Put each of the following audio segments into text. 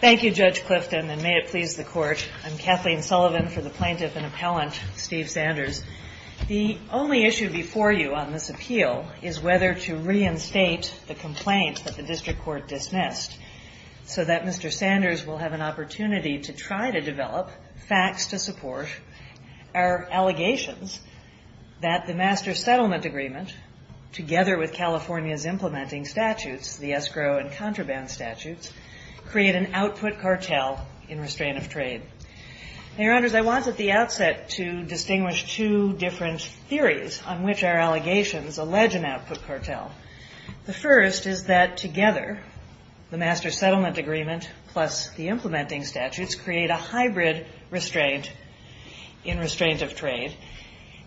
Thank you, Judge Clifton, and may it please the Court. I'm Kathleen Sullivan for the Plaintiff and Appellant, Steve Sanders. The only issue before you on this appeal is whether to reinstate the complaint that the District Court dismissed so that Mr. Sanders will have an opportunity to try to develop facts to support our allegations that the Master Settlement Agreement, together with California's implementing statutes, the escrow and contraband statutes, create an output cartel in restraint of trade. Now, Your Honors, I wanted at the outset to distinguish two different theories on which our allegations allege an output cartel. The first is that together, the Master Settlement Agreement plus the implementing statutes create a hybrid restraint in restraint of trade.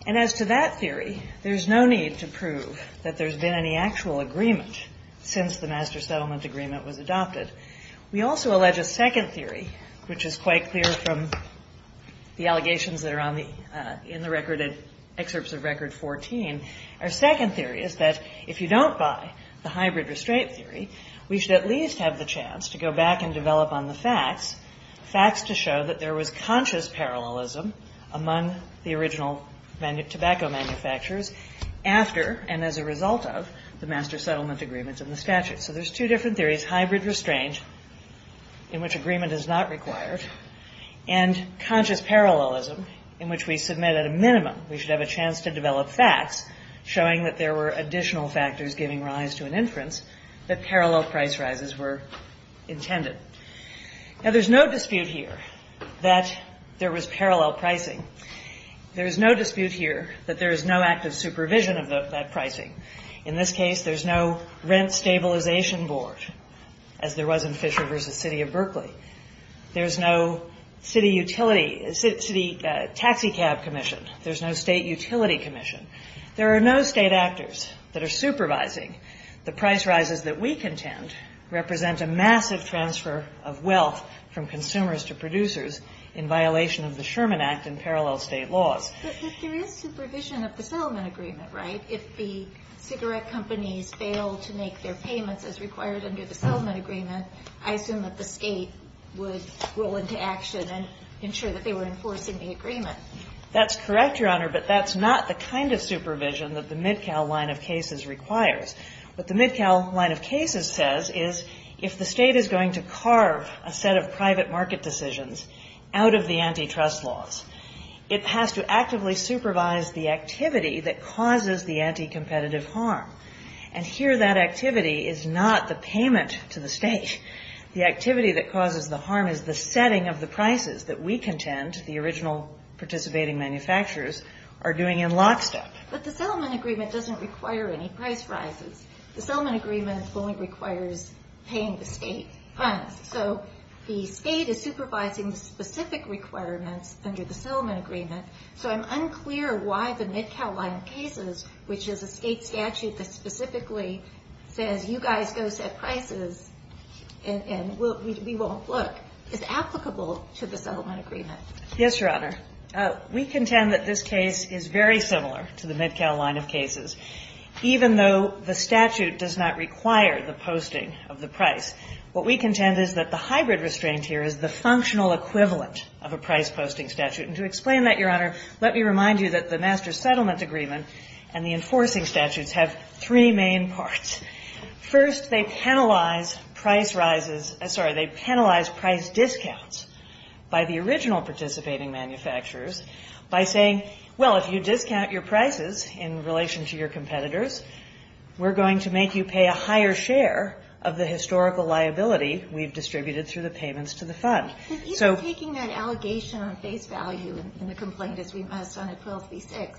And as to that theory, there's no need to prove that there's been any actual agreement since the Master Settlement Agreement was adopted. We also allege a second theory, which is quite clear from the allegations that are in the excerpts of Record 14. Our second theory is that if you don't buy the hybrid restraint theory, we should at least have the chance to go back and develop on the facts, facts to show that there was conscious parallelism among the original tobacco manufacturers after and as a result of the Master Settlement Agreement and the statute. So there's two different theories, hybrid restraint, in which agreement is not required, and conscious parallelism, in which we submit at a minimum we should have a chance to develop facts showing that there were additional factors giving rise to an inference that parallel price rises were intended. Now, there's no dispute here that there was parallel pricing. There's no dispute here that there is no active supervision of that pricing. In this case, there's no rent stabilization board, as there was in Fisher v. City of Berkeley. There's no city taxicab commission. There's no state utility commission. There are no state actors that are supervising the price rises that we contend represent a massive transfer of wealth from consumers to producers in violation of the Sherman Act and parallel state laws. But there is supervision of the settlement agreement, right? If the cigarette companies fail to make their payments as required under the settlement agreement, I assume that the state would roll into action and ensure that they were enforcing the agreement. That's correct, Your Honor, but that's not the kind of supervision that the MidCal line of cases requires. What the MidCal line of cases says is if the state is going to carve a set of private market decisions out of the antitrust laws, it has to actively supervise the activity that causes the anticompetitive harm. And here that activity is not the payment to the state. The activity that causes the harm is the setting of the prices that we contend, the original participating manufacturers, are doing in lockstep. But the settlement agreement doesn't require any price rises. The settlement agreement only requires paying the state funds. So the state is supervising the specific requirements under the settlement agreement. So I'm unclear why the MidCal line of cases, which is a state statute that specifically says you guys go set prices and we won't look, is applicable to the settlement agreement. Yes, Your Honor. We contend that this case is very similar to the MidCal line of cases, even though the statute does not require the posting of the price. What we contend is that the hybrid restraint here is the functional equivalent of a price-posting statute. And to explain that, Your Honor, let me remind you that the master settlement agreement and the enforcing statutes have three main parts. First, they penalize price rises – sorry, they penalize price discounts by the original participating manufacturers by saying, well, if you discount your prices in relation to your competitors, we're going to make you pay a higher share of the historical liability we've distributed through the payments to the fund. Even taking that allegation on face value in the complaint as we must on 1236,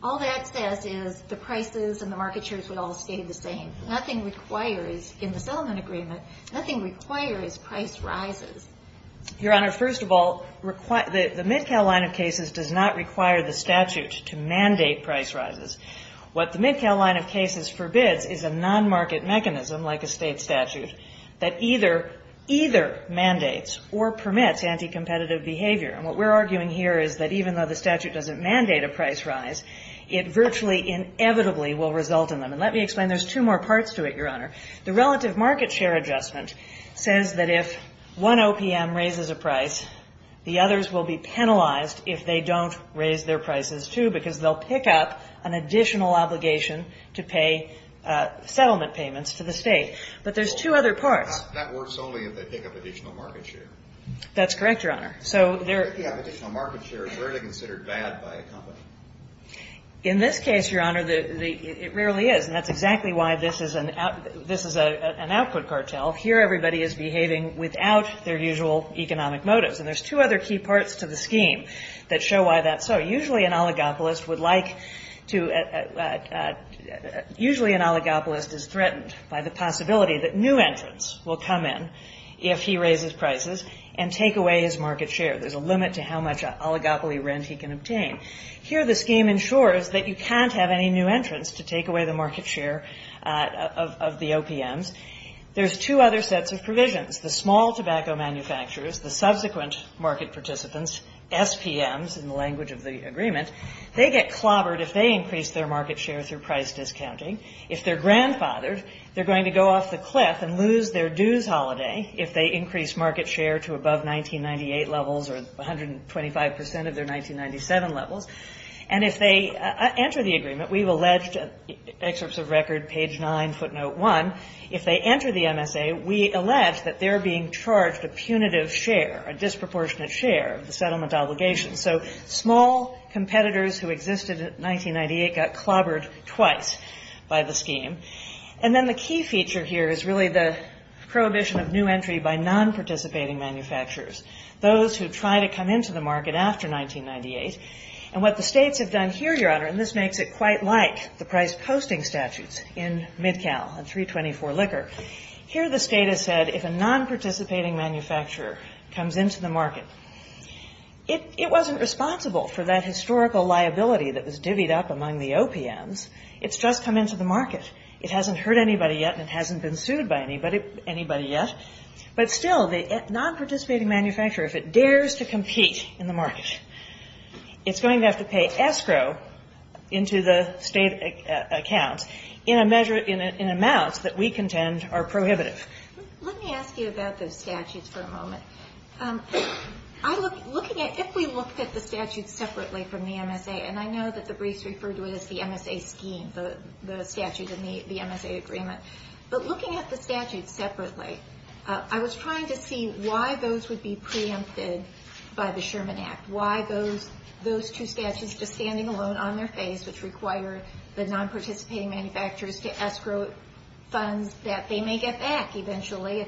all that says is the prices and the market shares would all stay the same. Nothing requires – in the settlement agreement, nothing requires price rises. Your Honor, first of all, the MidCal line of cases does not require the statute to mandate price rises. What the MidCal line of cases forbids is a non-market mechanism like a state statute that either mandates or permits anti-competitive behavior. And what we're arguing here is that even though the statute doesn't mandate a price rise, it virtually inevitably will result in them. And let me explain. There's two more parts to it, Your Honor. The relative market share adjustment says that if one OPM raises a price, the others will be penalized if they don't raise their prices, too, because they'll pick up an additional obligation to pay settlement payments to the state. But there's two other parts. That works only if they pick up additional market share. That's correct, Your Honor. If they pick up additional market share, it's rarely considered bad by a company. In this case, Your Honor, it rarely is. And that's exactly why this is an output cartel. Here everybody is behaving without their usual economic motives. And there's two other key parts to the scheme that show why that's so. Usually an oligopolist is threatened by the possibility that new entrants will come in if he raises prices and take away his market share. There's a limit to how much oligopoly rent he can obtain. Here the scheme ensures that you can't have any new entrants to take away the market share of the OPMs. There's two other sets of provisions. The small tobacco manufacturers, the subsequent market participants, SPMs in the language of the agreement, they get clobbered if they increase their market share through price discounting. If they're grandfathered, they're going to go off the cliff and lose their dues holiday if they increase market share to above 1998 levels or 125 percent of their 1997 levels. And if they enter the agreement, we've alleged, excerpts of record, page 9, footnote 1, if they enter the MSA, we allege that they're being charged a punitive share, a disproportionate share of the settlement obligations. So small competitors who existed in 1998 got clobbered twice by the scheme. And then the key feature here is really the prohibition of new entry by non-participating manufacturers, those who try to come into the market after 1998. And what the states have done here, Your Honor, and this makes it quite like the price posting statutes in MidCal and 324 Liquor, here the state has said if a non-participating manufacturer comes into the market, it wasn't responsible for that historical liability that was divvied up among the OPMs. It's just come into the market. It hasn't hurt anybody yet and it hasn't been sued by anybody yet. But still, the non-participating manufacturer, if it dares to compete in the market, it's going to have to pay escrow into the state account in a measure, in amounts that we contend are prohibitive. Let me ask you about those statutes for a moment. Looking at, if we looked at the statutes separately from the MSA, and I know that the briefs refer to it as the MSA scheme, the statute and the MSA agreement, but looking at the statutes separately, I was trying to see why those would be preempted by the Sherman Act. Why those two statutes, just standing alone on their face, which require the non-participating manufacturers to escrow funds that they may get back eventually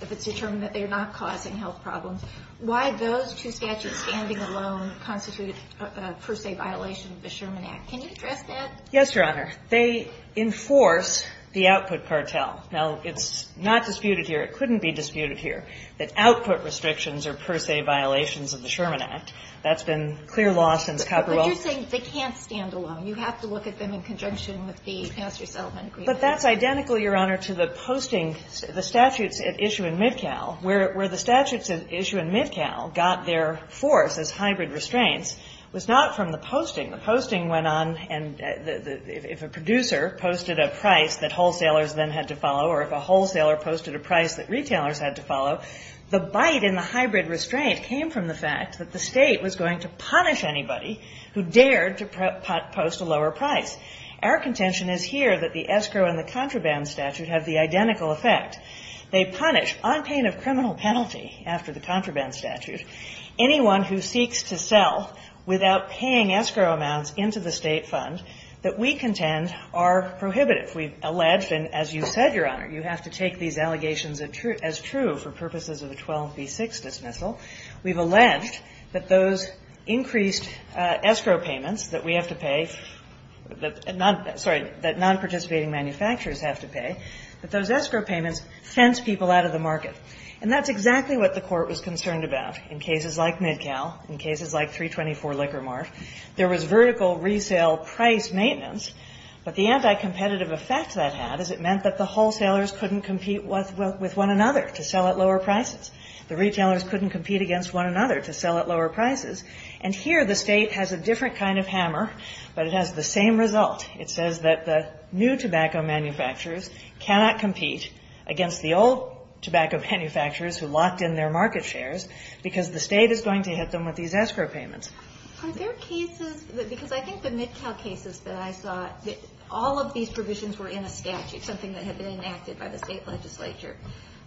if it's determined that they're not causing health problems, why those two statutes standing alone constitute a per se violation of the Sherman Act. Can you address that? Yes, Your Honor. They enforce the output cartel. Now, it's not disputed here, it couldn't be disputed here, that output restrictions are per se violations of the Sherman Act. That's been clear law since Capitol Hill. But you're saying they can't stand alone. You have to look at them in conjunction with the passenger settlement agreement. But that's identical, Your Honor, to the posting, the statutes at issue in Midcal, where the statutes at issue in Midcal got their force as hybrid restraints, was not from the posting. The posting went on, and if a producer posted a price that wholesalers then had to follow or if a wholesaler posted a price that retailers had to follow, the bite in the hybrid restraint came from the fact that the State was going to punish anybody who dared to post a lower price. Our contention is here that the escrow and the contraband statute have the identical effect. They punish, on pain of criminal penalty after the contraband statute, anyone who seeks to sell without paying escrow amounts into the State fund that we contend are prohibitive. We've alleged, and as you said, Your Honor, you have to take these allegations as true for purposes of the 12b-6 dismissal. We've alleged that those increased escrow payments that we have to pay, sorry, that nonparticipating manufacturers have to pay, that those escrow payments fence people out of the market. And that's exactly what the Court was concerned about in cases like MidCal, in cases like 324 Liquor Mart. There was vertical resale price maintenance, but the anti-competitive effect that had is it meant that the wholesalers couldn't compete with one another to sell at lower prices. The retailers couldn't compete against one another to sell at lower prices. And here the State has a different kind of hammer, but it has the same result. It says that the new tobacco manufacturers cannot compete against the old tobacco manufacturers who locked in their market shares because the State is going to hit them with these escrow payments. Are there cases, because I think the MidCal cases that I saw, all of these provisions were in a statute, something that had been enacted by the State legislature.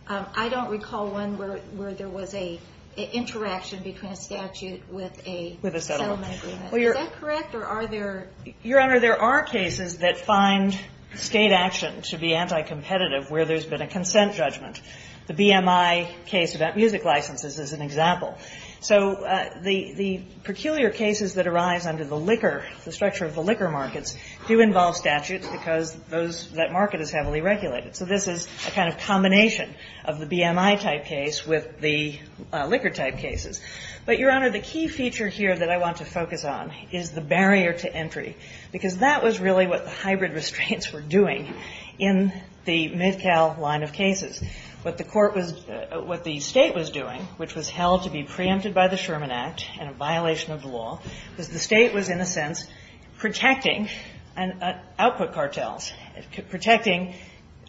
I don't recall one where there was an interaction between a statute with a settlement agreement. Is that correct, or are there? Your Honor, there are cases that find State action to be anti-competitive where there's been a consent judgment. The BMI case about music licenses is an example. So the peculiar cases that arise under the liquor, the structure of the liquor markets, do involve statutes because those, that market is heavily regulated. So this is a kind of combination of the BMI-type case with the liquor-type cases. But, Your Honor, the key feature here that I want to focus on is the barrier to entry, because that was really what the hybrid restraints were doing in the MidCal line of cases. What the Court was, what the State was doing, which was held to be preempted by the Sherman Act and a violation of the law, was the State was, in a sense, protecting output cartels, protecting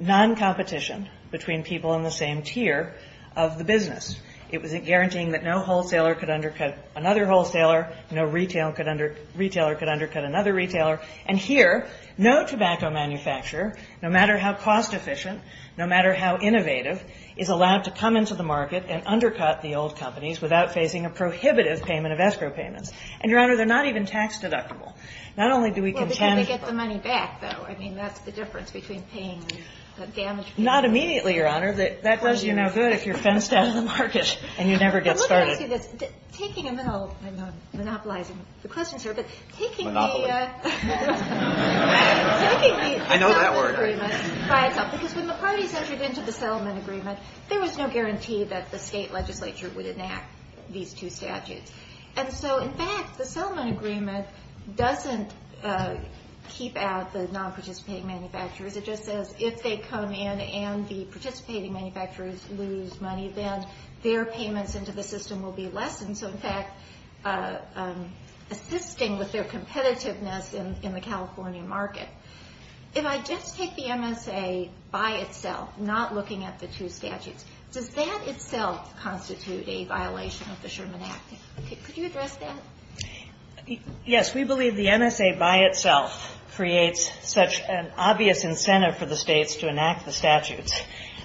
noncompetition between people in the same tier of the business. It was guaranteeing that no wholesaler could undercut another wholesaler, no retailer could undercut another retailer. And here, no tobacco manufacturer, no matter how cost-efficient, no matter how innovative, is allowed to come into the market and undercut the old companies without facing a prohibitive payment of escrow payments. And, Your Honor, they're not even tax-deductible. Not only do we contend. Well, because they get the money back, though. I mean, that's the difference between paying the damage fee. Not immediately, Your Honor. That does you no good if you're fenced out of the market and you never get started. I'm not monopolizing the questions here, but taking the settlement agreement by itself, because when the parties entered into the settlement agreement, there was no guarantee that the State legislature would enact these two statutes. And so, in fact, the settlement agreement doesn't keep out the nonparticipating manufacturers lose money, then their payments into the system will be lessened. So, in fact, assisting with their competitiveness in the California market. If I just take the MSA by itself, not looking at the two statutes, does that itself constitute a violation of the Sherman Act? Could you address that? Yes. We believe the MSA by itself creates such an obvious incentive for the States to enact the statutes.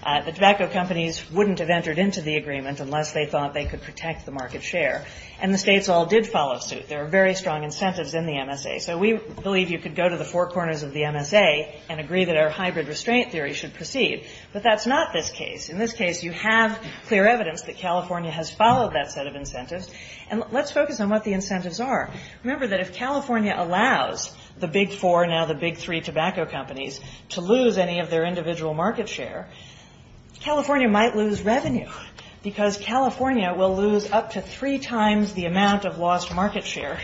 The tobacco companies wouldn't have entered into the agreement unless they thought they could protect the market share. And the States all did follow suit. There are very strong incentives in the MSA. So we believe you could go to the four corners of the MSA and agree that our hybrid restraint theory should proceed. But that's not this case. In this case, you have clear evidence that California has followed that set of incentives. And let's focus on what the incentives are. Remember that if California allows the big four, now the big three tobacco companies, to lose any of their individual market share, California might lose revenue because California will lose up to three times the amount of lost market share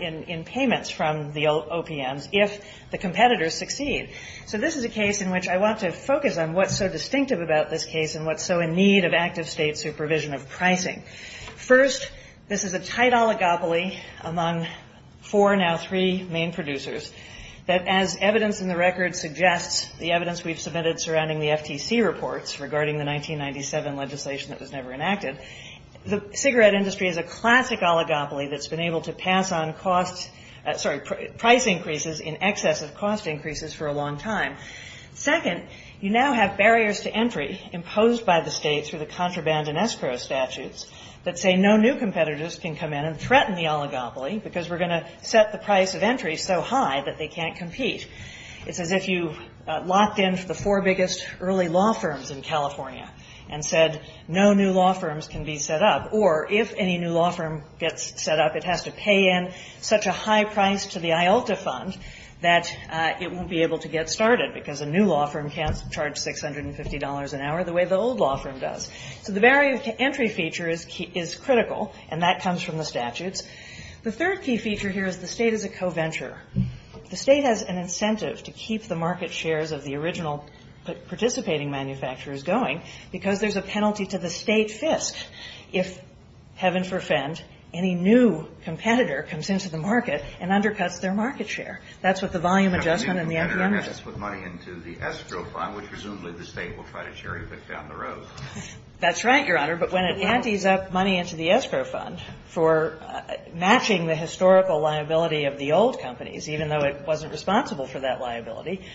in payments from the OPMs if the competitors succeed. So this is a case in which I want to focus on what's so distinctive about this case and what's so in need of active state supervision of pricing. First, this is a tight oligopoly among four, now three, main producers that as evidence in the record suggests, the evidence we've submitted surrounding the FTC reports regarding the 1997 legislation that was never enacted, the cigarette industry is a classic oligopoly that's been able to pass on price increases in excess of cost increases for a long time. Second, you now have barriers to entry imposed by the states through the contraband and escrow statutes that say no new competitors can come in and threaten the oligopoly because we're going to set the price of entry so high that they can't compete. It's as if you locked in the four biggest early law firms in California and said no new law firms can be set up, or if any new law firm gets set up, it has to pay in such a high price to the IALTA fund that it won't be able to get started because a new law firm can't charge $650 an hour the way the old law firm does. So the barrier to entry feature is critical, and that comes from the statutes. The third key feature here is the state is a co-venture. The state has an incentive to keep the market shares of the original participating manufacturers going because there's a penalty to the state fist if, heaven forfend, any new competitor comes into the market and undercuts their market share. That's what the volume adjustment and the NPM does. The NPM undercuts with money into the escrow fund, which presumably the state will try to cherry pick down the road. That's right, Your Honor. But when it antes up money into the escrow fund for matching the historical liability of the old companies, even though it wasn't responsible for that liability,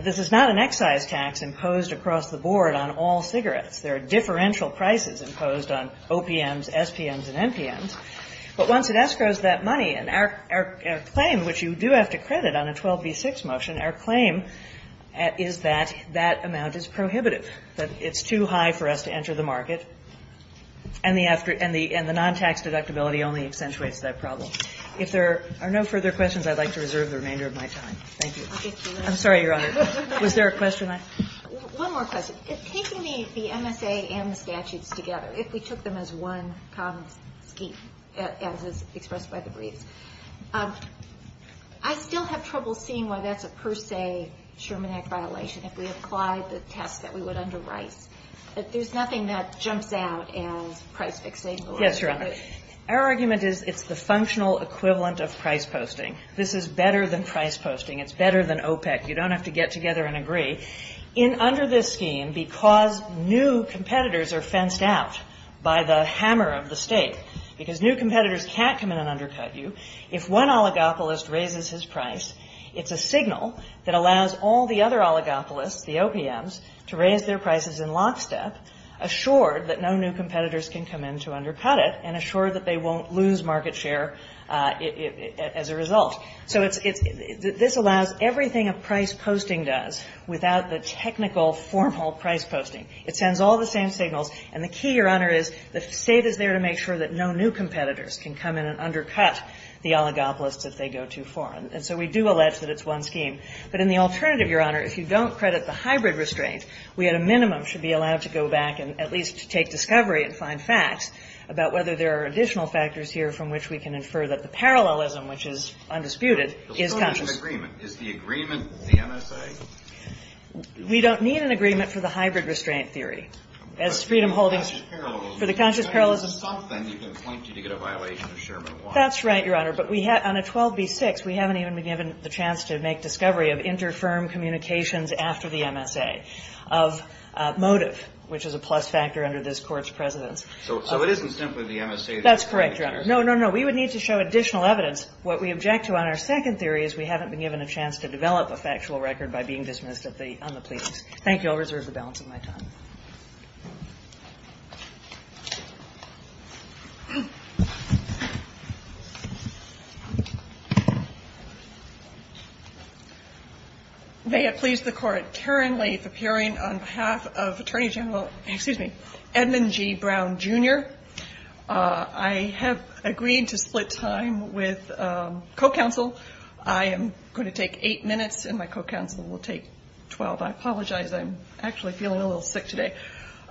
this is not an excise tax imposed across the board on all cigarettes. There are differential prices imposed on OPMs, SPMs, and NPMs. But once it escrows that money, and our claim, which you do have to credit on a 12b6 motion, our claim is that that amount is prohibitive, that it's too high for us to enter the market, and the non-tax deductibility only accentuates that problem. If there are no further questions, I'd like to reserve the remainder of my time. Thank you. I'm sorry, Your Honor. Was there a question? One more question. Taking the MSA and the statutes together, if we took them as one common scheme, as is expressed by the briefs, I still have trouble seeing why that's a per se Sherman Act violation. If we applied the test that we would under Rice, there's nothing that jumps out as price fixation. Yes, Your Honor. Our argument is it's the functional equivalent of price posting. This is better than price posting. It's better than OPEC. You don't have to get together and agree. Under this scheme, because new competitors are fenced out by the hammer of the State, because new competitors can't come in and undercut you, if one oligopolist raises his price, it's a signal that allows all the other oligopolists, the OPMs, to raise their prices in lockstep, assured that no new competitors can come in to undercut it, and assured that they won't lose market share as a result. So this allows everything a price posting does without the technical formal price posting. It sends all the same signals. And the key, Your Honor, is the State is there to make sure that no new competitors can come in and undercut the oligopolists if they go too far. And so we do allege that it's one scheme. But in the alternative, Your Honor, if you don't credit the hybrid restraint, we at a minimum should be allowed to go back and at least take discovery and find facts about whether there are additional factors here from which we can infer that the parallelism, which is undisputed, is conscious. But we don't need an agreement. Is the agreement the MSA? We don't need an agreement for the hybrid restraint theory as freedom holdings for the conscious parallelism. But if it's something, you can point to it to get a violation of Sherman 1. That's right, Your Honor. But on a 12b-6, we haven't even been given the chance to make discovery of inter-firm communications after the MSA of motive, which is a plus factor under this Court's precedence. So it isn't simply the MSA that you're pointing to? That's correct, Your Honor. No, no, no. We would need to show additional evidence. What we object to on our second theory is we haven't been given a chance to develop a factual record by being dismissed on the pleas. Thank you. I'll reserve the balance of my time. May it please the Court, Karen Lathe appearing on behalf of Attorney General Edmund G. Brown, Jr. I have agreed to split time with co-counsel. I am going to take eight minutes, and my co-counsel will take 12. I'm actually feeling a little sick today.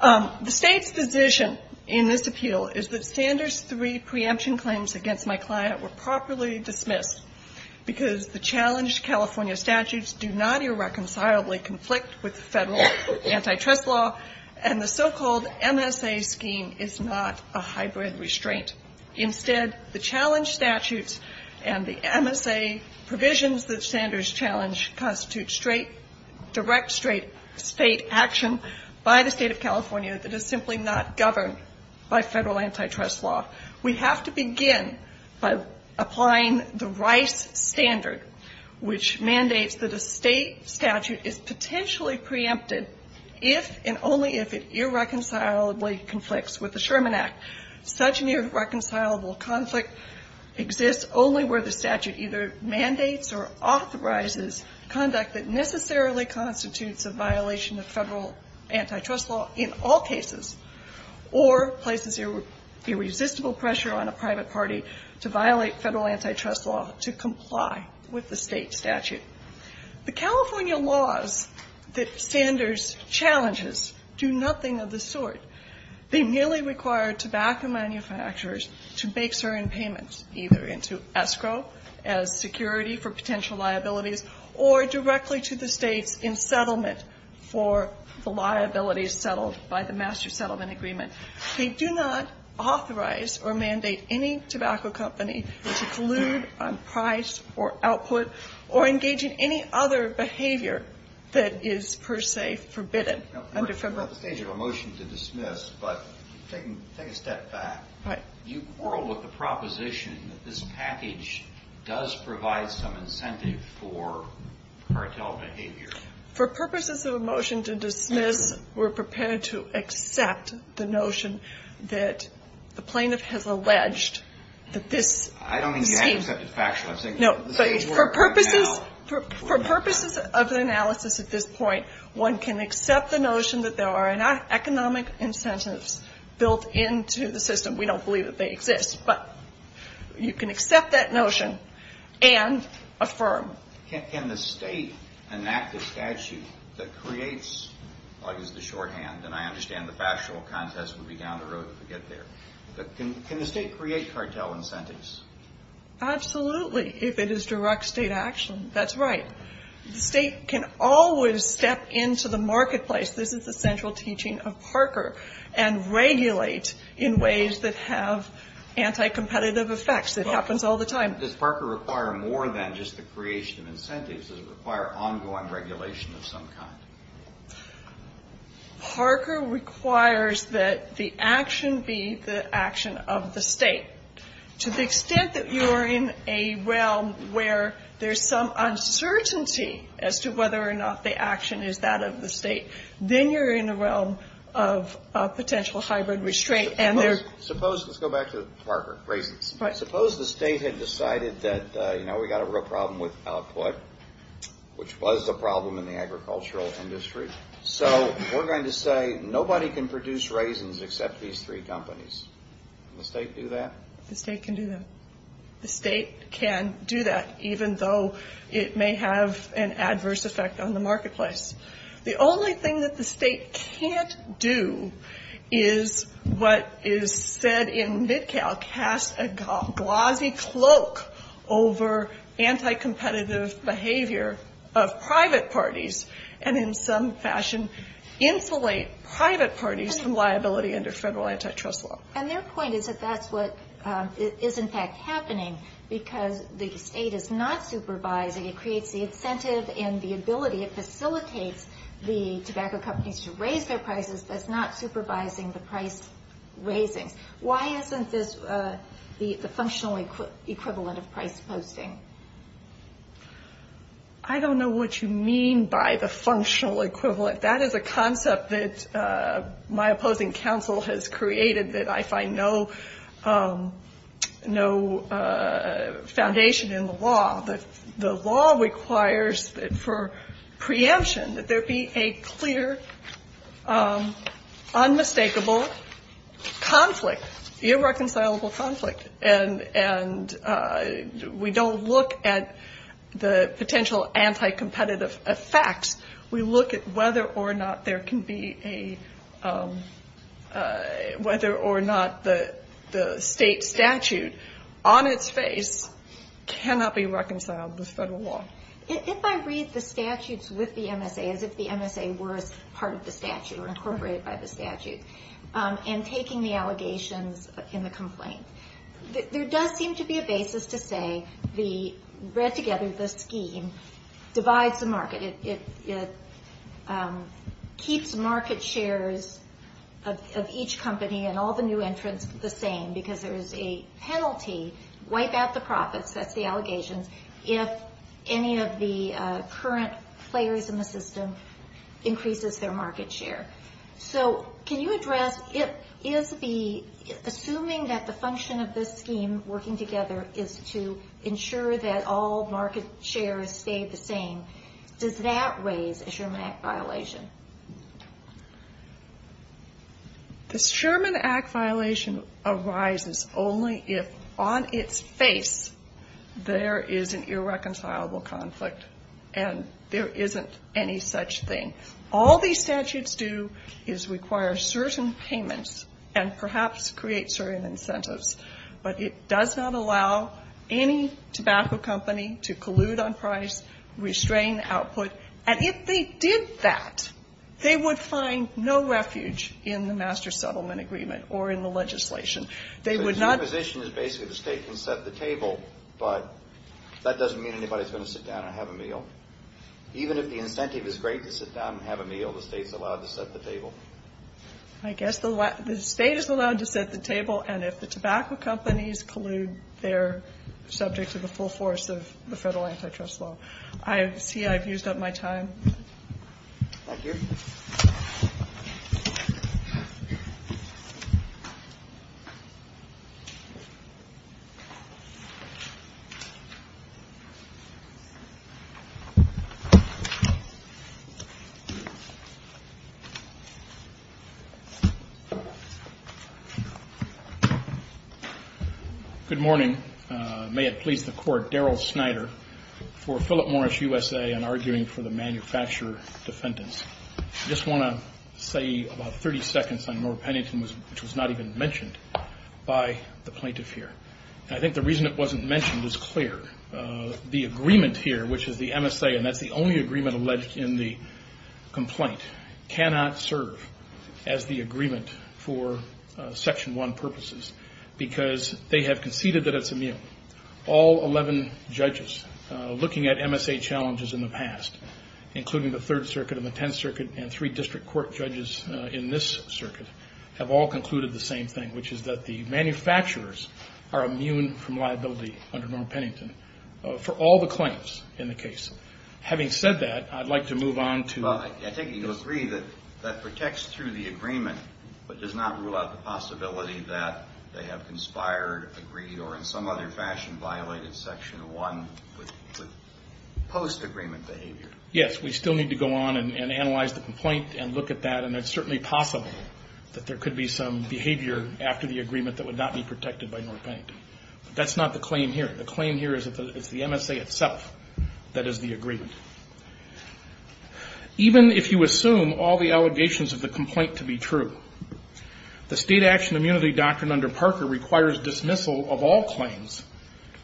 The State's position in this appeal is that Sanders' three preemption claims against my client were properly dismissed because the challenged California statutes do not irreconcilably conflict with the federal antitrust law, and the so-called MSA scheme is not a hybrid restraint. Instead, the challenged statutes and the MSA provisions that Sanders challenged constitute straight, direct state action by the State of California that is simply not governed by federal antitrust law. We have to begin by applying the Rice Standard, which mandates that a state statute is potentially preempted if and only if it irreconcilably conflicts with the Sherman Act. Such an irreconcilable conflict exists only where the statute either mandates or authorizes conduct that necessarily constitutes a violation of federal antitrust law in all cases or places irresistible pressure on a private party to violate federal antitrust law to comply with the state statute. The California laws that Sanders challenges do nothing of the sort. They merely require tobacco manufacturers to make certain payments, either into escrow as security for potential liabilities or directly to the states in settlement for the liabilities settled by the master settlement agreement. They do not authorize or mandate any tobacco company to collude on price or output or engage in any other behavior that is per se forbidden under federal law. We're at the stage of a motion to dismiss, but take a step back. You quarrel with the proposition that this package does provide some incentive for cartel behavior. For purposes of a motion to dismiss, we're prepared to accept the notion that the plaintiff has alleged that this scheme. I don't mean to get intercepted factually. No, but for purposes of the analysis at this point, one can accept the notion that there are economic incentives built into the system. We don't believe that they exist, but you can accept that notion and affirm. Can the state enact a statute that creates, I'll use the shorthand, and I understand the factual contest will be down the road if we get there, but can the state create cartel incentives? Absolutely, if it is direct state action, that's right. The state can always step into the marketplace, this is the central teaching of Parker, and regulate in ways that have anti-competitive effects, it happens all the time. Does Parker require more than just the creation of incentives? Does it require ongoing regulation of some kind? Parker requires that the action be the action of the state. To the extent that you are in a realm where there's some uncertainty as to whether or not the action is that of the state, then you're in a realm of potential hybrid restraint. Suppose, let's go back to Parker. Suppose the state had decided that, you know, we've got a real problem with output, which was a problem in the agricultural industry, so we're going to say nobody can produce raisins except these three companies. Can the state do that? The state can do that. The state can do that, even though it may have an adverse effect on the marketplace. The only thing that the state can't do is what is said in MidCal, cast a glossy cloak over anti-competitive behavior of private parties, and in some fashion insulate private parties from liability under federal antitrust law. And their point is that that's what is in fact happening, because the state is not supervising. It creates the incentive and the ability. It facilitates the tobacco companies to raise their prices, but it's not supervising the price raisings. Why isn't this the functional equivalent of price posting? I don't know what you mean by the functional equivalent. That is a concept that my opposing counsel has created, that I find no foundation in the law. The law requires for preemption that there be a clear, unmistakable conflict, irreconcilable conflict. And we don't look at the potential anti-competitive effects. We look at whether or not there can be a — If I read the statutes with the MSA as if the MSA were part of the statute or incorporated by the statute, and taking the allegations in the complaint, there does seem to be a basis to say the — read together, the scheme divides the market. It keeps market shares of each company and all the new entrants the same, because there is a penalty, wipe out the profits, that's the allegations, if any of the current players in the system increases their market share. So can you address, assuming that the function of this scheme working together is to ensure that all market shares stay the same, does that raise a Sherman Act violation? The Sherman Act violation arises only if on its face there is an irreconcilable conflict and there isn't any such thing. All these statutes do is require certain payments and perhaps create certain incentives. But it does not allow any tobacco company to collude on price, restrain output, and if they did that, they would find no refuge in the Master Settlement Agreement or in the legislation. They would not — So your position is basically the State can set the table, but that doesn't mean anybody is going to sit down and have a meal. Even if the incentive is great to sit down and have a meal, the State is allowed to set the table? I guess the State is allowed to set the table, and if the tobacco companies collude, they're subject to the full force of the federal antitrust law. I see I've used up my time. Thank you. Good morning. May it please the Court. Daryl Snyder for Philip Morris USA and arguing for the manufacturer defendants. I just want to say about 30 seconds on Norah Pennington, which was not even mentioned by the plaintiff here. And I think the reason it wasn't mentioned is clear. The agreement here, which is the MSA, and that's the only agreement alleged in the complaint, cannot serve as the agreement for Section 1 purposes because they have conceded that it's immune. All 11 judges looking at MSA challenges in the past, including the Third Circuit and the Tenth Circuit and three district court judges in this circuit, have all concluded the same thing, which is that the manufacturers are immune from liability under Norah Pennington for all the claims in the case. Having said that, I'd like to move on to... I think you'll agree that that protects through the agreement but does not rule out the possibility that they have conspired, agreed, or in some other fashion violated Section 1 with post-agreement behavior. Yes, we still need to go on and analyze the complaint and look at that, and it's certainly possible that there could be some behavior after the agreement that would not be protected by Norah Pennington. That's not the claim here. The claim here is that it's the MSA itself that is the agreement. Even if you assume all the allegations of the complaint to be true, the state action immunity doctrine under Parker requires dismissal of all claims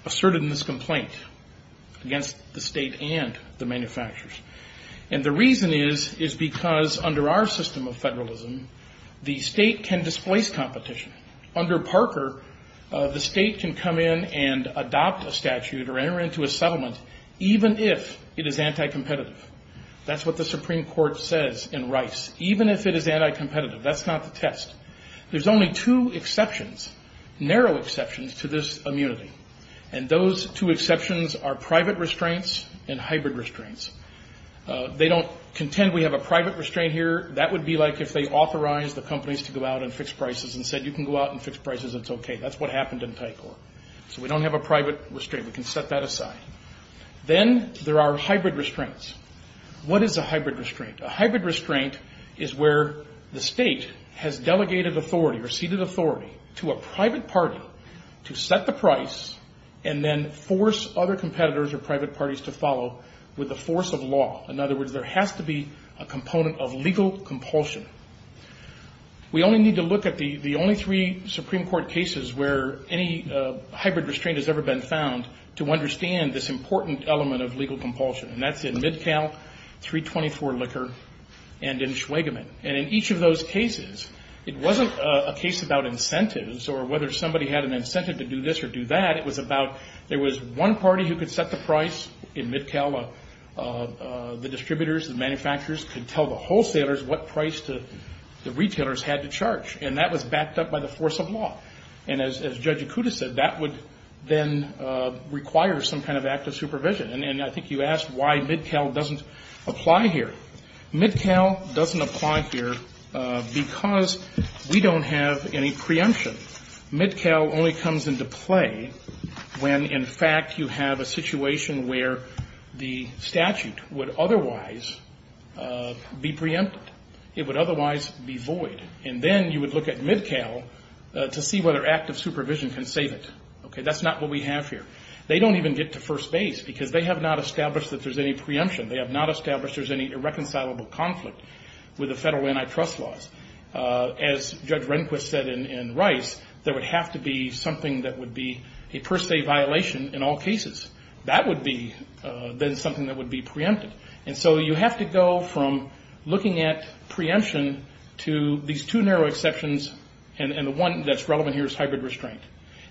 asserted in this complaint against the state and the manufacturers. And the reason is is because under our system of federalism, the state can displace competition. Under Parker, the state can come in and adopt a statute or enter into a settlement even if it is anti-competitive. That's what the Supreme Court says in Rice. Even if it is anti-competitive, that's not the test. There's only two exceptions, narrow exceptions to this immunity, and those two exceptions are private restraints and hybrid restraints. They don't contend we have a private restraint here. That would be like if they authorized the companies to go out and fix prices and said you can go out and fix prices, it's okay. That's what happened in Tycor. So we don't have a private restraint. We can set that aside. Then there are hybrid restraints. What is a hybrid restraint? A hybrid restraint is where the state has delegated authority or ceded authority to a private party to set the price and then force other competitors or private parties to follow with the force of law. In other words, there has to be a component of legal compulsion. We only need to look at the only three Supreme Court cases where any hybrid restraint has ever been found to understand this important element of legal compulsion, and that's in MidCal, 324 Liquor, and in Schweigemin. And in each of those cases, it wasn't a case about incentives or whether somebody had an incentive to do this or do that. It was about there was one party who could set the price in MidCal. The distributors, the manufacturers could tell the wholesalers what price the retailers had to charge. And that was backed up by the force of law. And as Judge Ikuda said, that would then require some kind of active supervision. And I think you asked why MidCal doesn't apply here. MidCal doesn't apply here because we don't have any preemption. MidCal only comes into play when, in fact, you have a situation where the statute would otherwise be preempted. It would otherwise be void. And then you would look at MidCal to see whether active supervision can save it. Okay, that's not what we have here. They don't even get to first base because they have not established that there's any preemption. They have not established there's any irreconcilable conflict with the federal antitrust laws. As Judge Rehnquist said in Rice, there would have to be something that would be a first aid violation in all cases. That would be then something that would be preempted. And so you have to go from looking at preemption to these two narrow exceptions and the one that's relevant here is hybrid restraint.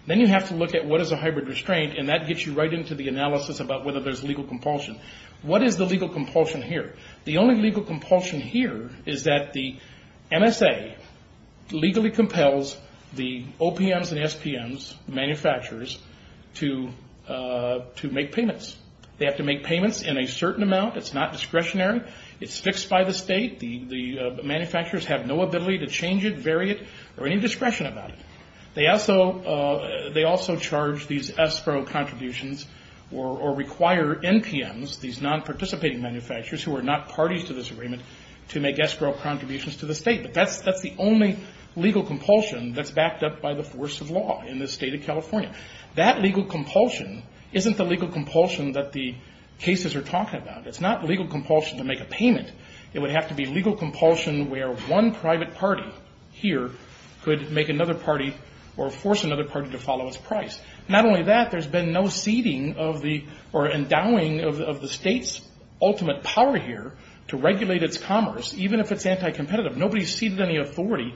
Then you have to look at what is a hybrid restraint, and that gets you right into the analysis about whether there's legal compulsion. What is the legal compulsion here? The only legal compulsion here is that the MSA legally compels the OPMs and SPMs, manufacturers, to make payments. They have to make payments in a certain amount. It's not discretionary. It's fixed by the state. The manufacturers have no ability to change it, vary it, or any discretion about it. They also charge these ESPRO contributions or require NPMs, these non-participating manufacturers who are not parties to this agreement, to make ESPRO contributions to the state. But that's the only legal compulsion that's backed up by the force of law in the state of California. That legal compulsion isn't the legal compulsion that the cases are talking about. It's not legal compulsion to make a payment. It would have to be legal compulsion where one private party here could make another party or force another party to follow its price. Not only that, there's been no ceding or endowing of the state's ultimate power here to regulate its commerce, even if it's anti-competitive. Nobody's ceded any authority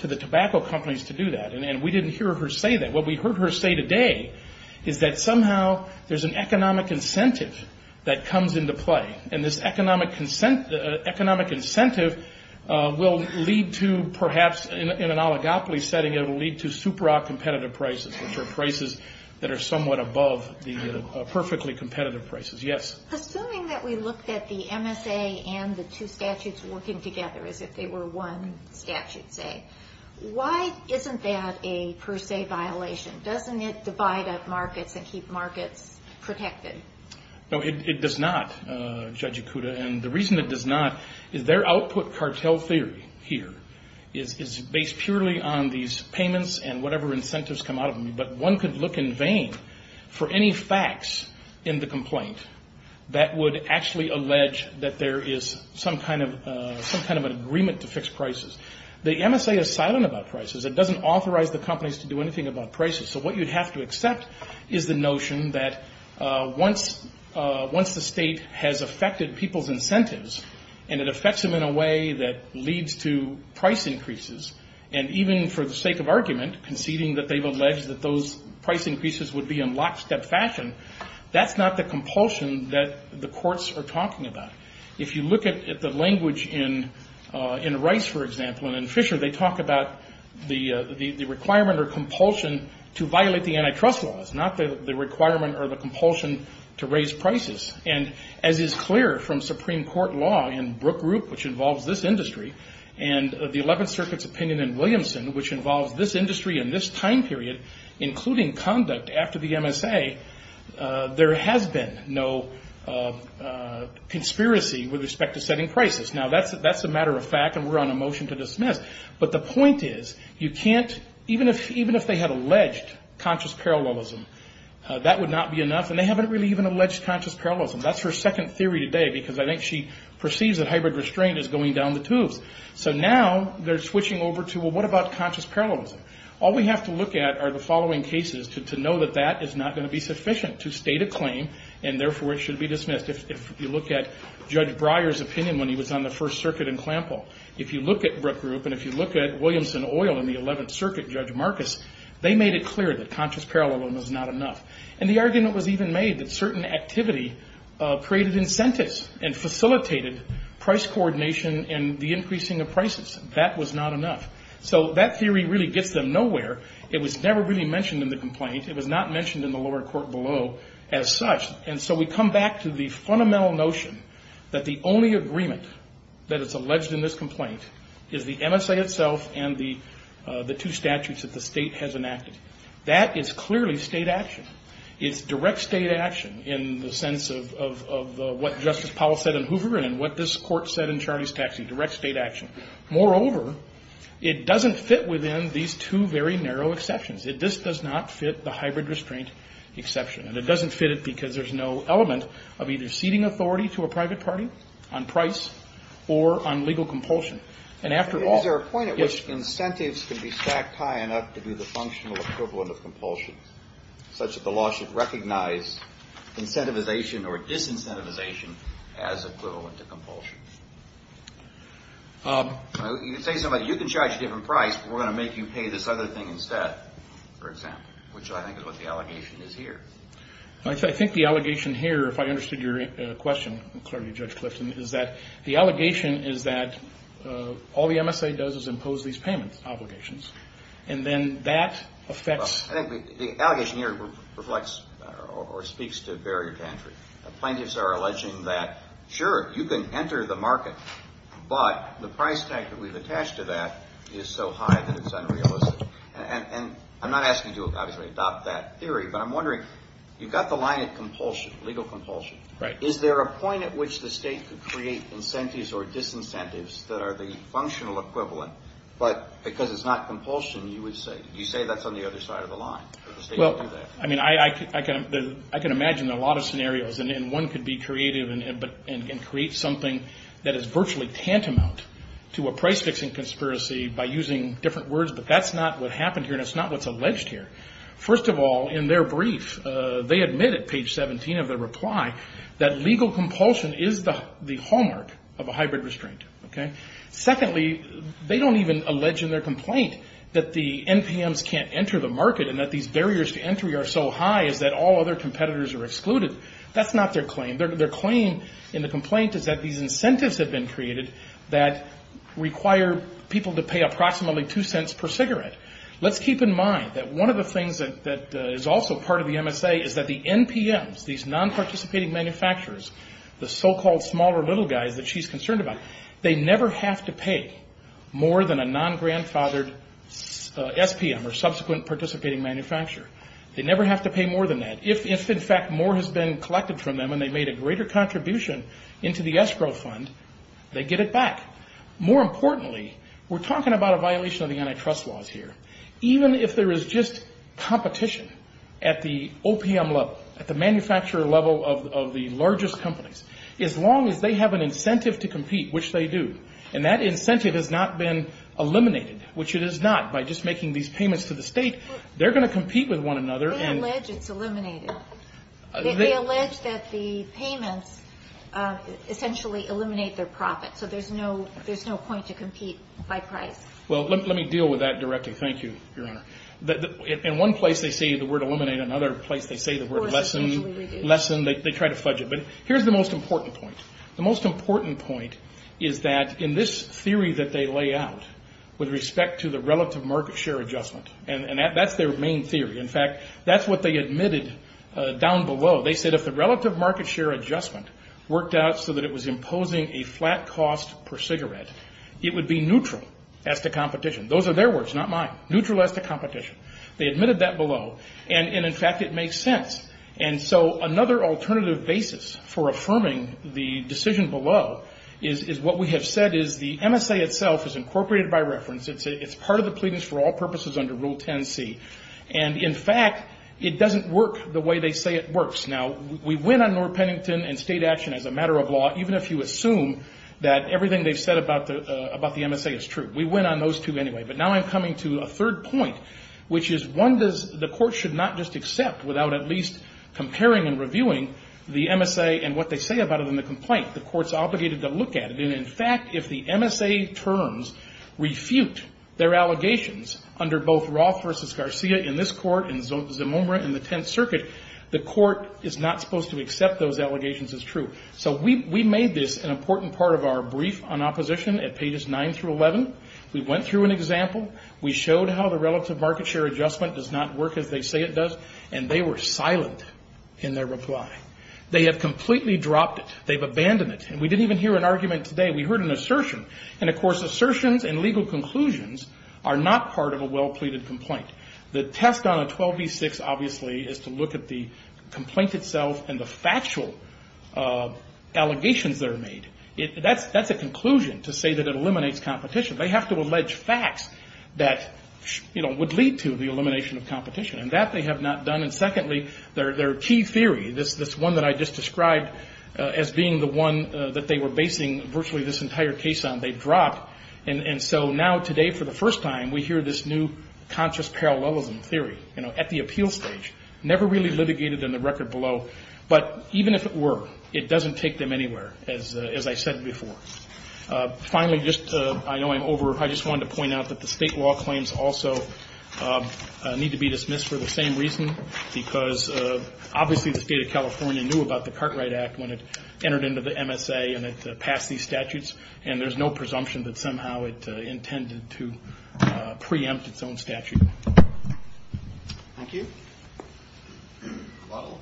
to the tobacco companies to do that, and we didn't hear her say that. What we heard her say today is that somehow there's an economic incentive that comes into play, and this economic incentive will lead to perhaps in an oligopoly setting, it will lead to supra-competitive prices, which are prices that are somewhat above the perfectly competitive prices. Yes? Assuming that we looked at the MSA and the two statutes working together as if they were one statute, say, why isn't that a per se violation? Doesn't it divide up markets and keep markets protected? No, it does not, Judge Ikuda. And the reason it does not is their output cartel theory here is based purely on these payments and whatever incentives come out of them, but one could look in vain for any facts in the complaint that would actually allege that there is some kind of an agreement to fix prices. The MSA is silent about prices. It doesn't authorize the companies to do anything about prices. So what you'd have to accept is the notion that once the state has affected people's incentives and it affects them in a way that leads to price increases, and even for the sake of argument, conceding that they've alleged that those price increases would be in lockstep fashion, that's not the compulsion that the courts are talking about. If you look at the language in Rice, for example, and in Fisher, they talk about the requirement or compulsion to violate the antitrust laws, not the requirement or the compulsion to raise prices. And as is clear from Supreme Court law in Brook Group, which involves this industry, and the Eleventh Circuit's opinion in Williamson, which involves this industry in this time period, including conduct after the MSA, there has been no conspiracy with respect to setting prices. Now, that's a matter of fact, and we're on a motion to dismiss. But the point is, even if they had alleged conscious parallelism, that would not be enough. And they haven't really even alleged conscious parallelism. That's her second theory today, because I think she perceives that hybrid restraint is going down the tubes. So now they're switching over to, well, what about conscious parallelism? All we have to look at are the following cases to know that that is not going to be sufficient to state a claim, and therefore it should be dismissed. If you look at Judge Breyer's opinion when he was on the First Circuit in Clampville, if you look at Brook Group and if you look at Williamson Oil in the Eleventh Circuit, Judge Marcus, they made it clear that conscious parallelism was not enough. And the argument was even made that certain activity created incentives and facilitated price coordination and the increasing of prices. That was not enough. So that theory really gets them nowhere. It was never really mentioned in the complaint. It was not mentioned in the lower court below as such. And so we come back to the fundamental notion that the only agreement that is alleged in this complaint is the MSA itself and the two statutes that the State has enacted. That is clearly State action. It's direct State action in the sense of what Justice Powell said in Hoover and what this Court said in Charlie's Taxi, direct State action. Moreover, it doesn't fit within these two very narrow exceptions. This does not fit the hybrid restraint exception. And it doesn't fit it because there's no element of either ceding authority to a private party on price or on legal compulsion. And after all- Is there a point at which incentives can be stacked high enough to do the functional equivalent of compulsion such that the law should recognize incentivization or disincentivization as equivalent to compulsion? You can say to somebody, you can charge a different price, but we're going to make you pay this other thing instead, for example, which I think is what the allegation is here. I think the allegation here, if I understood your question clearly, Judge Clifton, is that the allegation is that all the MSA does is impose these payment obligations. And then that affects- Well, I think the allegation here reflects or speaks to barrier to entry. Plaintiffs are alleging that, sure, you can enter the market, but the price tag that we've attached to that is so high that it's unrealistic. And I'm not asking you to obviously adopt that theory, but I'm wondering, you've got the line of compulsion, legal compulsion. Right. Is there a point at which the state could create incentives or disincentives that are the functional equivalent, but because it's not compulsion, you would say. You say that's on the other side of the line, that the state would do that. Well, I mean, I can imagine a lot of scenarios, and one could be creative and create something that is virtually tantamount to a price-fixing conspiracy by using different words, but that's not what happened here, and it's not what's alleged here. First of all, in their brief, they admitted, page 17 of their reply, that legal compulsion is the hallmark of a hybrid restraint. Secondly, they don't even allege in their complaint that the NPMs can't enter the market and that these barriers to entry are so high that all other competitors are excluded. That's not their claim. Their claim in the complaint is that these incentives have been created that require people to pay approximately two cents per cigarette. Let's keep in mind that one of the things that is also part of the MSA is that the NPMs, these non-participating manufacturers, the so-called smaller little guys that she's concerned about, they never have to pay more than a non-grandfathered SPM or subsequent participating manufacturer. They never have to pay more than that. If, in fact, more has been collected from them and they made a greater contribution into the escrow fund, they get it back. More importantly, we're talking about a violation of the antitrust laws here. Even if there is just competition at the OPM level, at the manufacturer level of the largest companies, as long as they have an incentive to compete, which they do, and that incentive has not been eliminated, which it is not by just making these payments to the state. They're going to compete with one another. They allege it's eliminated. They allege that the payments essentially eliminate their profit, so there's no point to compete by price. Well, let me deal with that directly. Thank you, Your Honor. In one place they say the word eliminate. In another place they say the word lessen. They try to fudge it. But here's the most important point. The most important point is that in this theory that they lay out with respect to the relative market share adjustment, and that's their main theory. In fact, that's what they admitted down below. They said if the relative market share adjustment worked out so that it was imposing a flat cost per cigarette, it would be neutral as to competition. Those are their words, not mine. Neutral as to competition. They admitted that below. And, in fact, it makes sense. And so another alternative basis for affirming the decision below is what we have said is the MSA itself is incorporated by reference. It's part of the pleadings for all purposes under Rule 10C. And, in fact, it doesn't work the way they say it works. Now, we win on Norr Pennington and state action as a matter of law, even if you assume that everything they've said about the MSA is true. We win on those two anyway. But now I'm coming to a third point, which is, one, the court should not just accept without at least comparing and reviewing the MSA and what they say about it in the complaint. The court's obligated to look at it. And, in fact, if the MSA terms refute their allegations under both Roth versus Garcia in this court and Zimumra in the Tenth Circuit, the court is not supposed to accept those allegations as true. So we made this an important part of our brief on opposition at pages 9 through 11. We went through an example. We showed how the relative market share adjustment does not work as they say it does. And they were silent in their reply. They have completely dropped it. They've abandoned it. And we didn't even hear an argument today. We heard an assertion. And, of course, assertions and legal conclusions are not part of a well-pleaded complaint. The test on a 12 v. 6, obviously, is to look at the complaint itself and the factual allegations that are made. That's a conclusion to say that it eliminates competition. They have to allege facts that, you know, would lead to the elimination of competition. And that they have not done. And, secondly, their key theory, this one that I just described as being the one that they were basing virtually this entire case on, they've dropped. And so now today for the first time we hear this new conscious parallelism theory, you know, at the appeal stage. Never really litigated in the record below. But even if it were, it doesn't take them anywhere, as I said before. Finally, just I know I'm over. I just wanted to point out that the state law claims also need to be dismissed for the same reason. Because, obviously, the State of California knew about the Cartwright Act when it entered into the MSA and it passed these statutes. And there's no presumption that somehow it intended to preempt its own statute. Thank you. Lottle.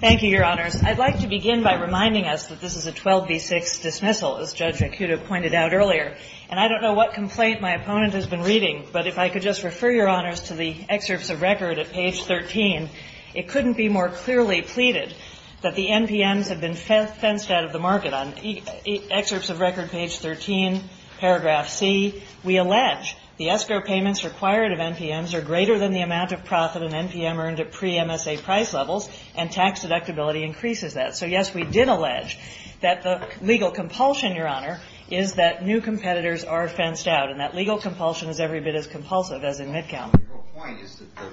Thank you, Your Honors. I'd like to begin by reminding us that this is a 12B6 dismissal, as Judge Acuto pointed out earlier. And I don't know what complaint my opponent has been reading, but if I could just refer Your Honors to the excerpts of record at page 13, it couldn't be more clearly pleaded that the NPMs have been fenced out of the market. On excerpts of record page 13, paragraph C, we allege the escrow payments required of NPMs are greater than the amount of profit an NPM earned at pre-MSA price levels, and tax deductibility increases that. So, yes, we did allege that the legal compulsion, Your Honor, is that new competitors are fenced out. And that legal compulsion is every bit as compulsive as in mid-count. The point is that the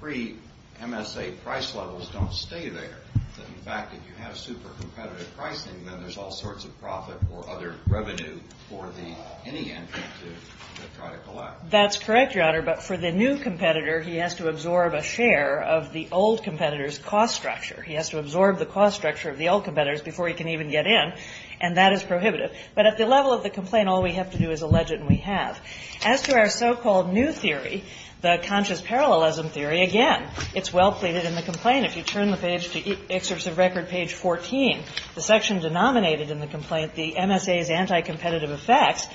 pre-MSA price levels don't stay there. In fact, if you have super competitive pricing, then there's all sorts of profit or other revenue for the NEM to try to collapse. That's correct, Your Honor. But for the new competitor, he has to absorb a share of the old competitor's cost structure. He has to absorb the cost structure of the old competitors before he can even get in, and that is prohibitive. But at the level of the complaint, all we have to do is allege it, and we have. As to our so-called new theory, the conscious parallelism theory, again, it's well pleaded in the complaint. If you turn the page to excerpts of record page 14, the section denominated in the complaint, the MSA's anti-competitive effects,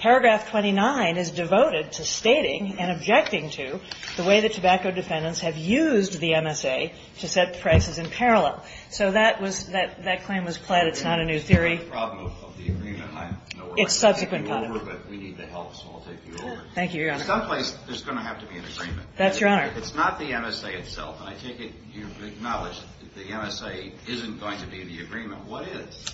paragraph 29 is devoted to stating and objecting to the way the tobacco defendants have used the MSA to set prices in parallel. So that claim was pled. It's not a new theory. It's not a problem of the agreement. I know we're taking you over, but we need the help, so I'll take you over. Thank you, Your Honor. In some place, there's going to have to be an agreement. That's right. If it's not the MSA itself, and I take it you've acknowledged that the MSA isn't going to be the agreement, what is?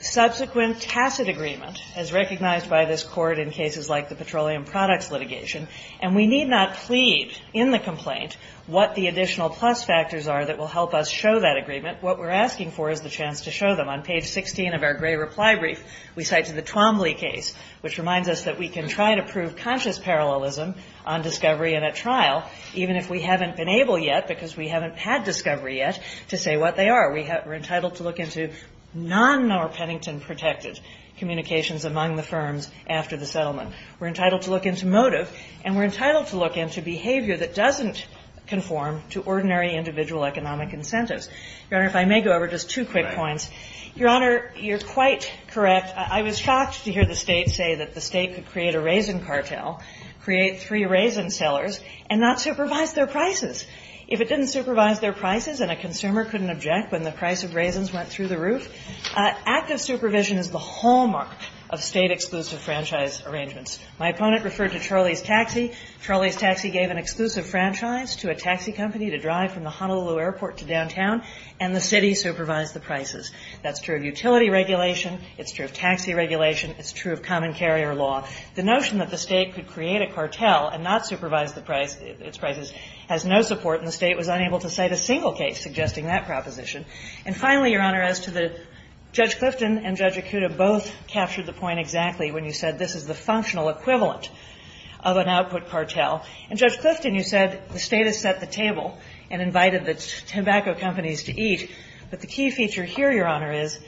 Subsequent tacit agreement, as recognized by this Court in cases like the petroleum products litigation, and we need not plead in the complaint what the additional plus factors are that will help us show that agreement. What we're asking for is the chance to show them. On page 16 of our gray reply brief, we cite to the Twombly case, which reminds us that we can try to prove conscious parallelism on discovery in a trial, even if we haven't been able yet, because we haven't had discovery yet, to say what they are. We're entitled to look into non-Norr-Pennington protected communications among the firms after the settlement. We're entitled to look into motive, and we're entitled to look into behavior that doesn't conform to ordinary individual economic incentives. Your Honor, if I may go over just two quick points. Your Honor, you're quite correct. I was shocked to hear the State say that the State could create a raisin cartel, create three raisin sellers, and not supervise their prices. If it didn't supervise their prices and a consumer couldn't object when the price of raisins went through the roof, active supervision is the hallmark of State-exclusive franchise arrangements. My opponent referred to Charlie's Taxi. Charlie's Taxi gave an exclusive franchise to a taxi company to drive from the Honolulu Airport to downtown, and the City supervised the prices. That's true of utility regulation. It's true of taxi regulation. It's true of common carrier law. The notion that the State could create a cartel and not supervise the price, its prices, has no support. And the State was unable to cite a single case suggesting that proposition. And finally, Your Honor, as to the Judge Clifton and Judge Akuta both captured the point exactly when you said this is the functional equivalent of an output cartel. In Judge Clifton, you said the State has set the table and invited the tobacco companies to eat. But the key feature here, Your Honor, is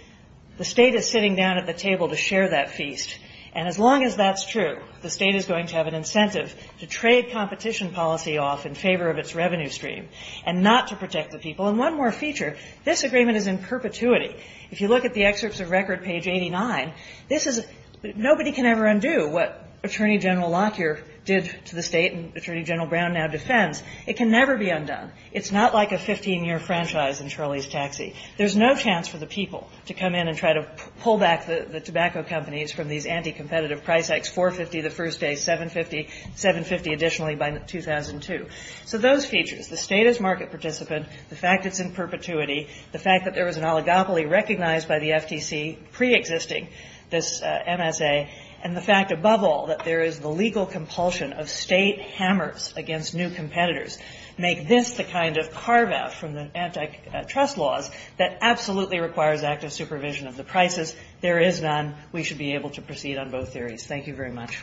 the State is sitting down at the table to share that feast. And as long as that's true, the State is going to have an incentive to trade competition policy off in favor of its revenue stream and not to protect the people. And one more feature. This agreement is in perpetuity. If you look at the excerpts of Record, page 89, this is a – nobody can ever undo what Attorney General Lockyer did to the State and Attorney General Brown now defends. It can never be undone. It's not like a 15-year franchise in Charlie's Taxi. There's no chance for the people to come in and try to pull back the tobacco companies from these anticompetitive price hikes, $4.50 the first day, $7.50, $7.50 additionally by 2002. So those features, the State as market participant, the fact it's in perpetuity, the fact that there was an oligopoly recognized by the FTC preexisting this MSA, and the fact above all that there is the legal compulsion of State hammers against new competitors make this the kind of carve-out from the antitrust laws that absolutely requires active supervision of the prices. There is none. We should be able to proceed on both theories. Thank you very much.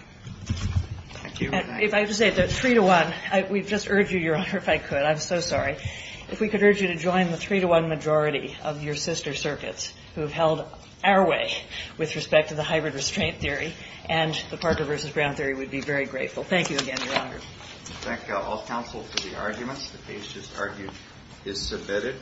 Thank you. If I could say, the three-to-one, we'd just urge you, Your Honor, if I could. I'm so sorry. If we could urge you to join the three-to-one majority of your sister circuits who have held our way with respect to the hybrid restraint theory and the Parker v. Brown theory, we'd be very grateful. Thank you again, Your Honor. Thank all counsel for the arguments. The case is submitted.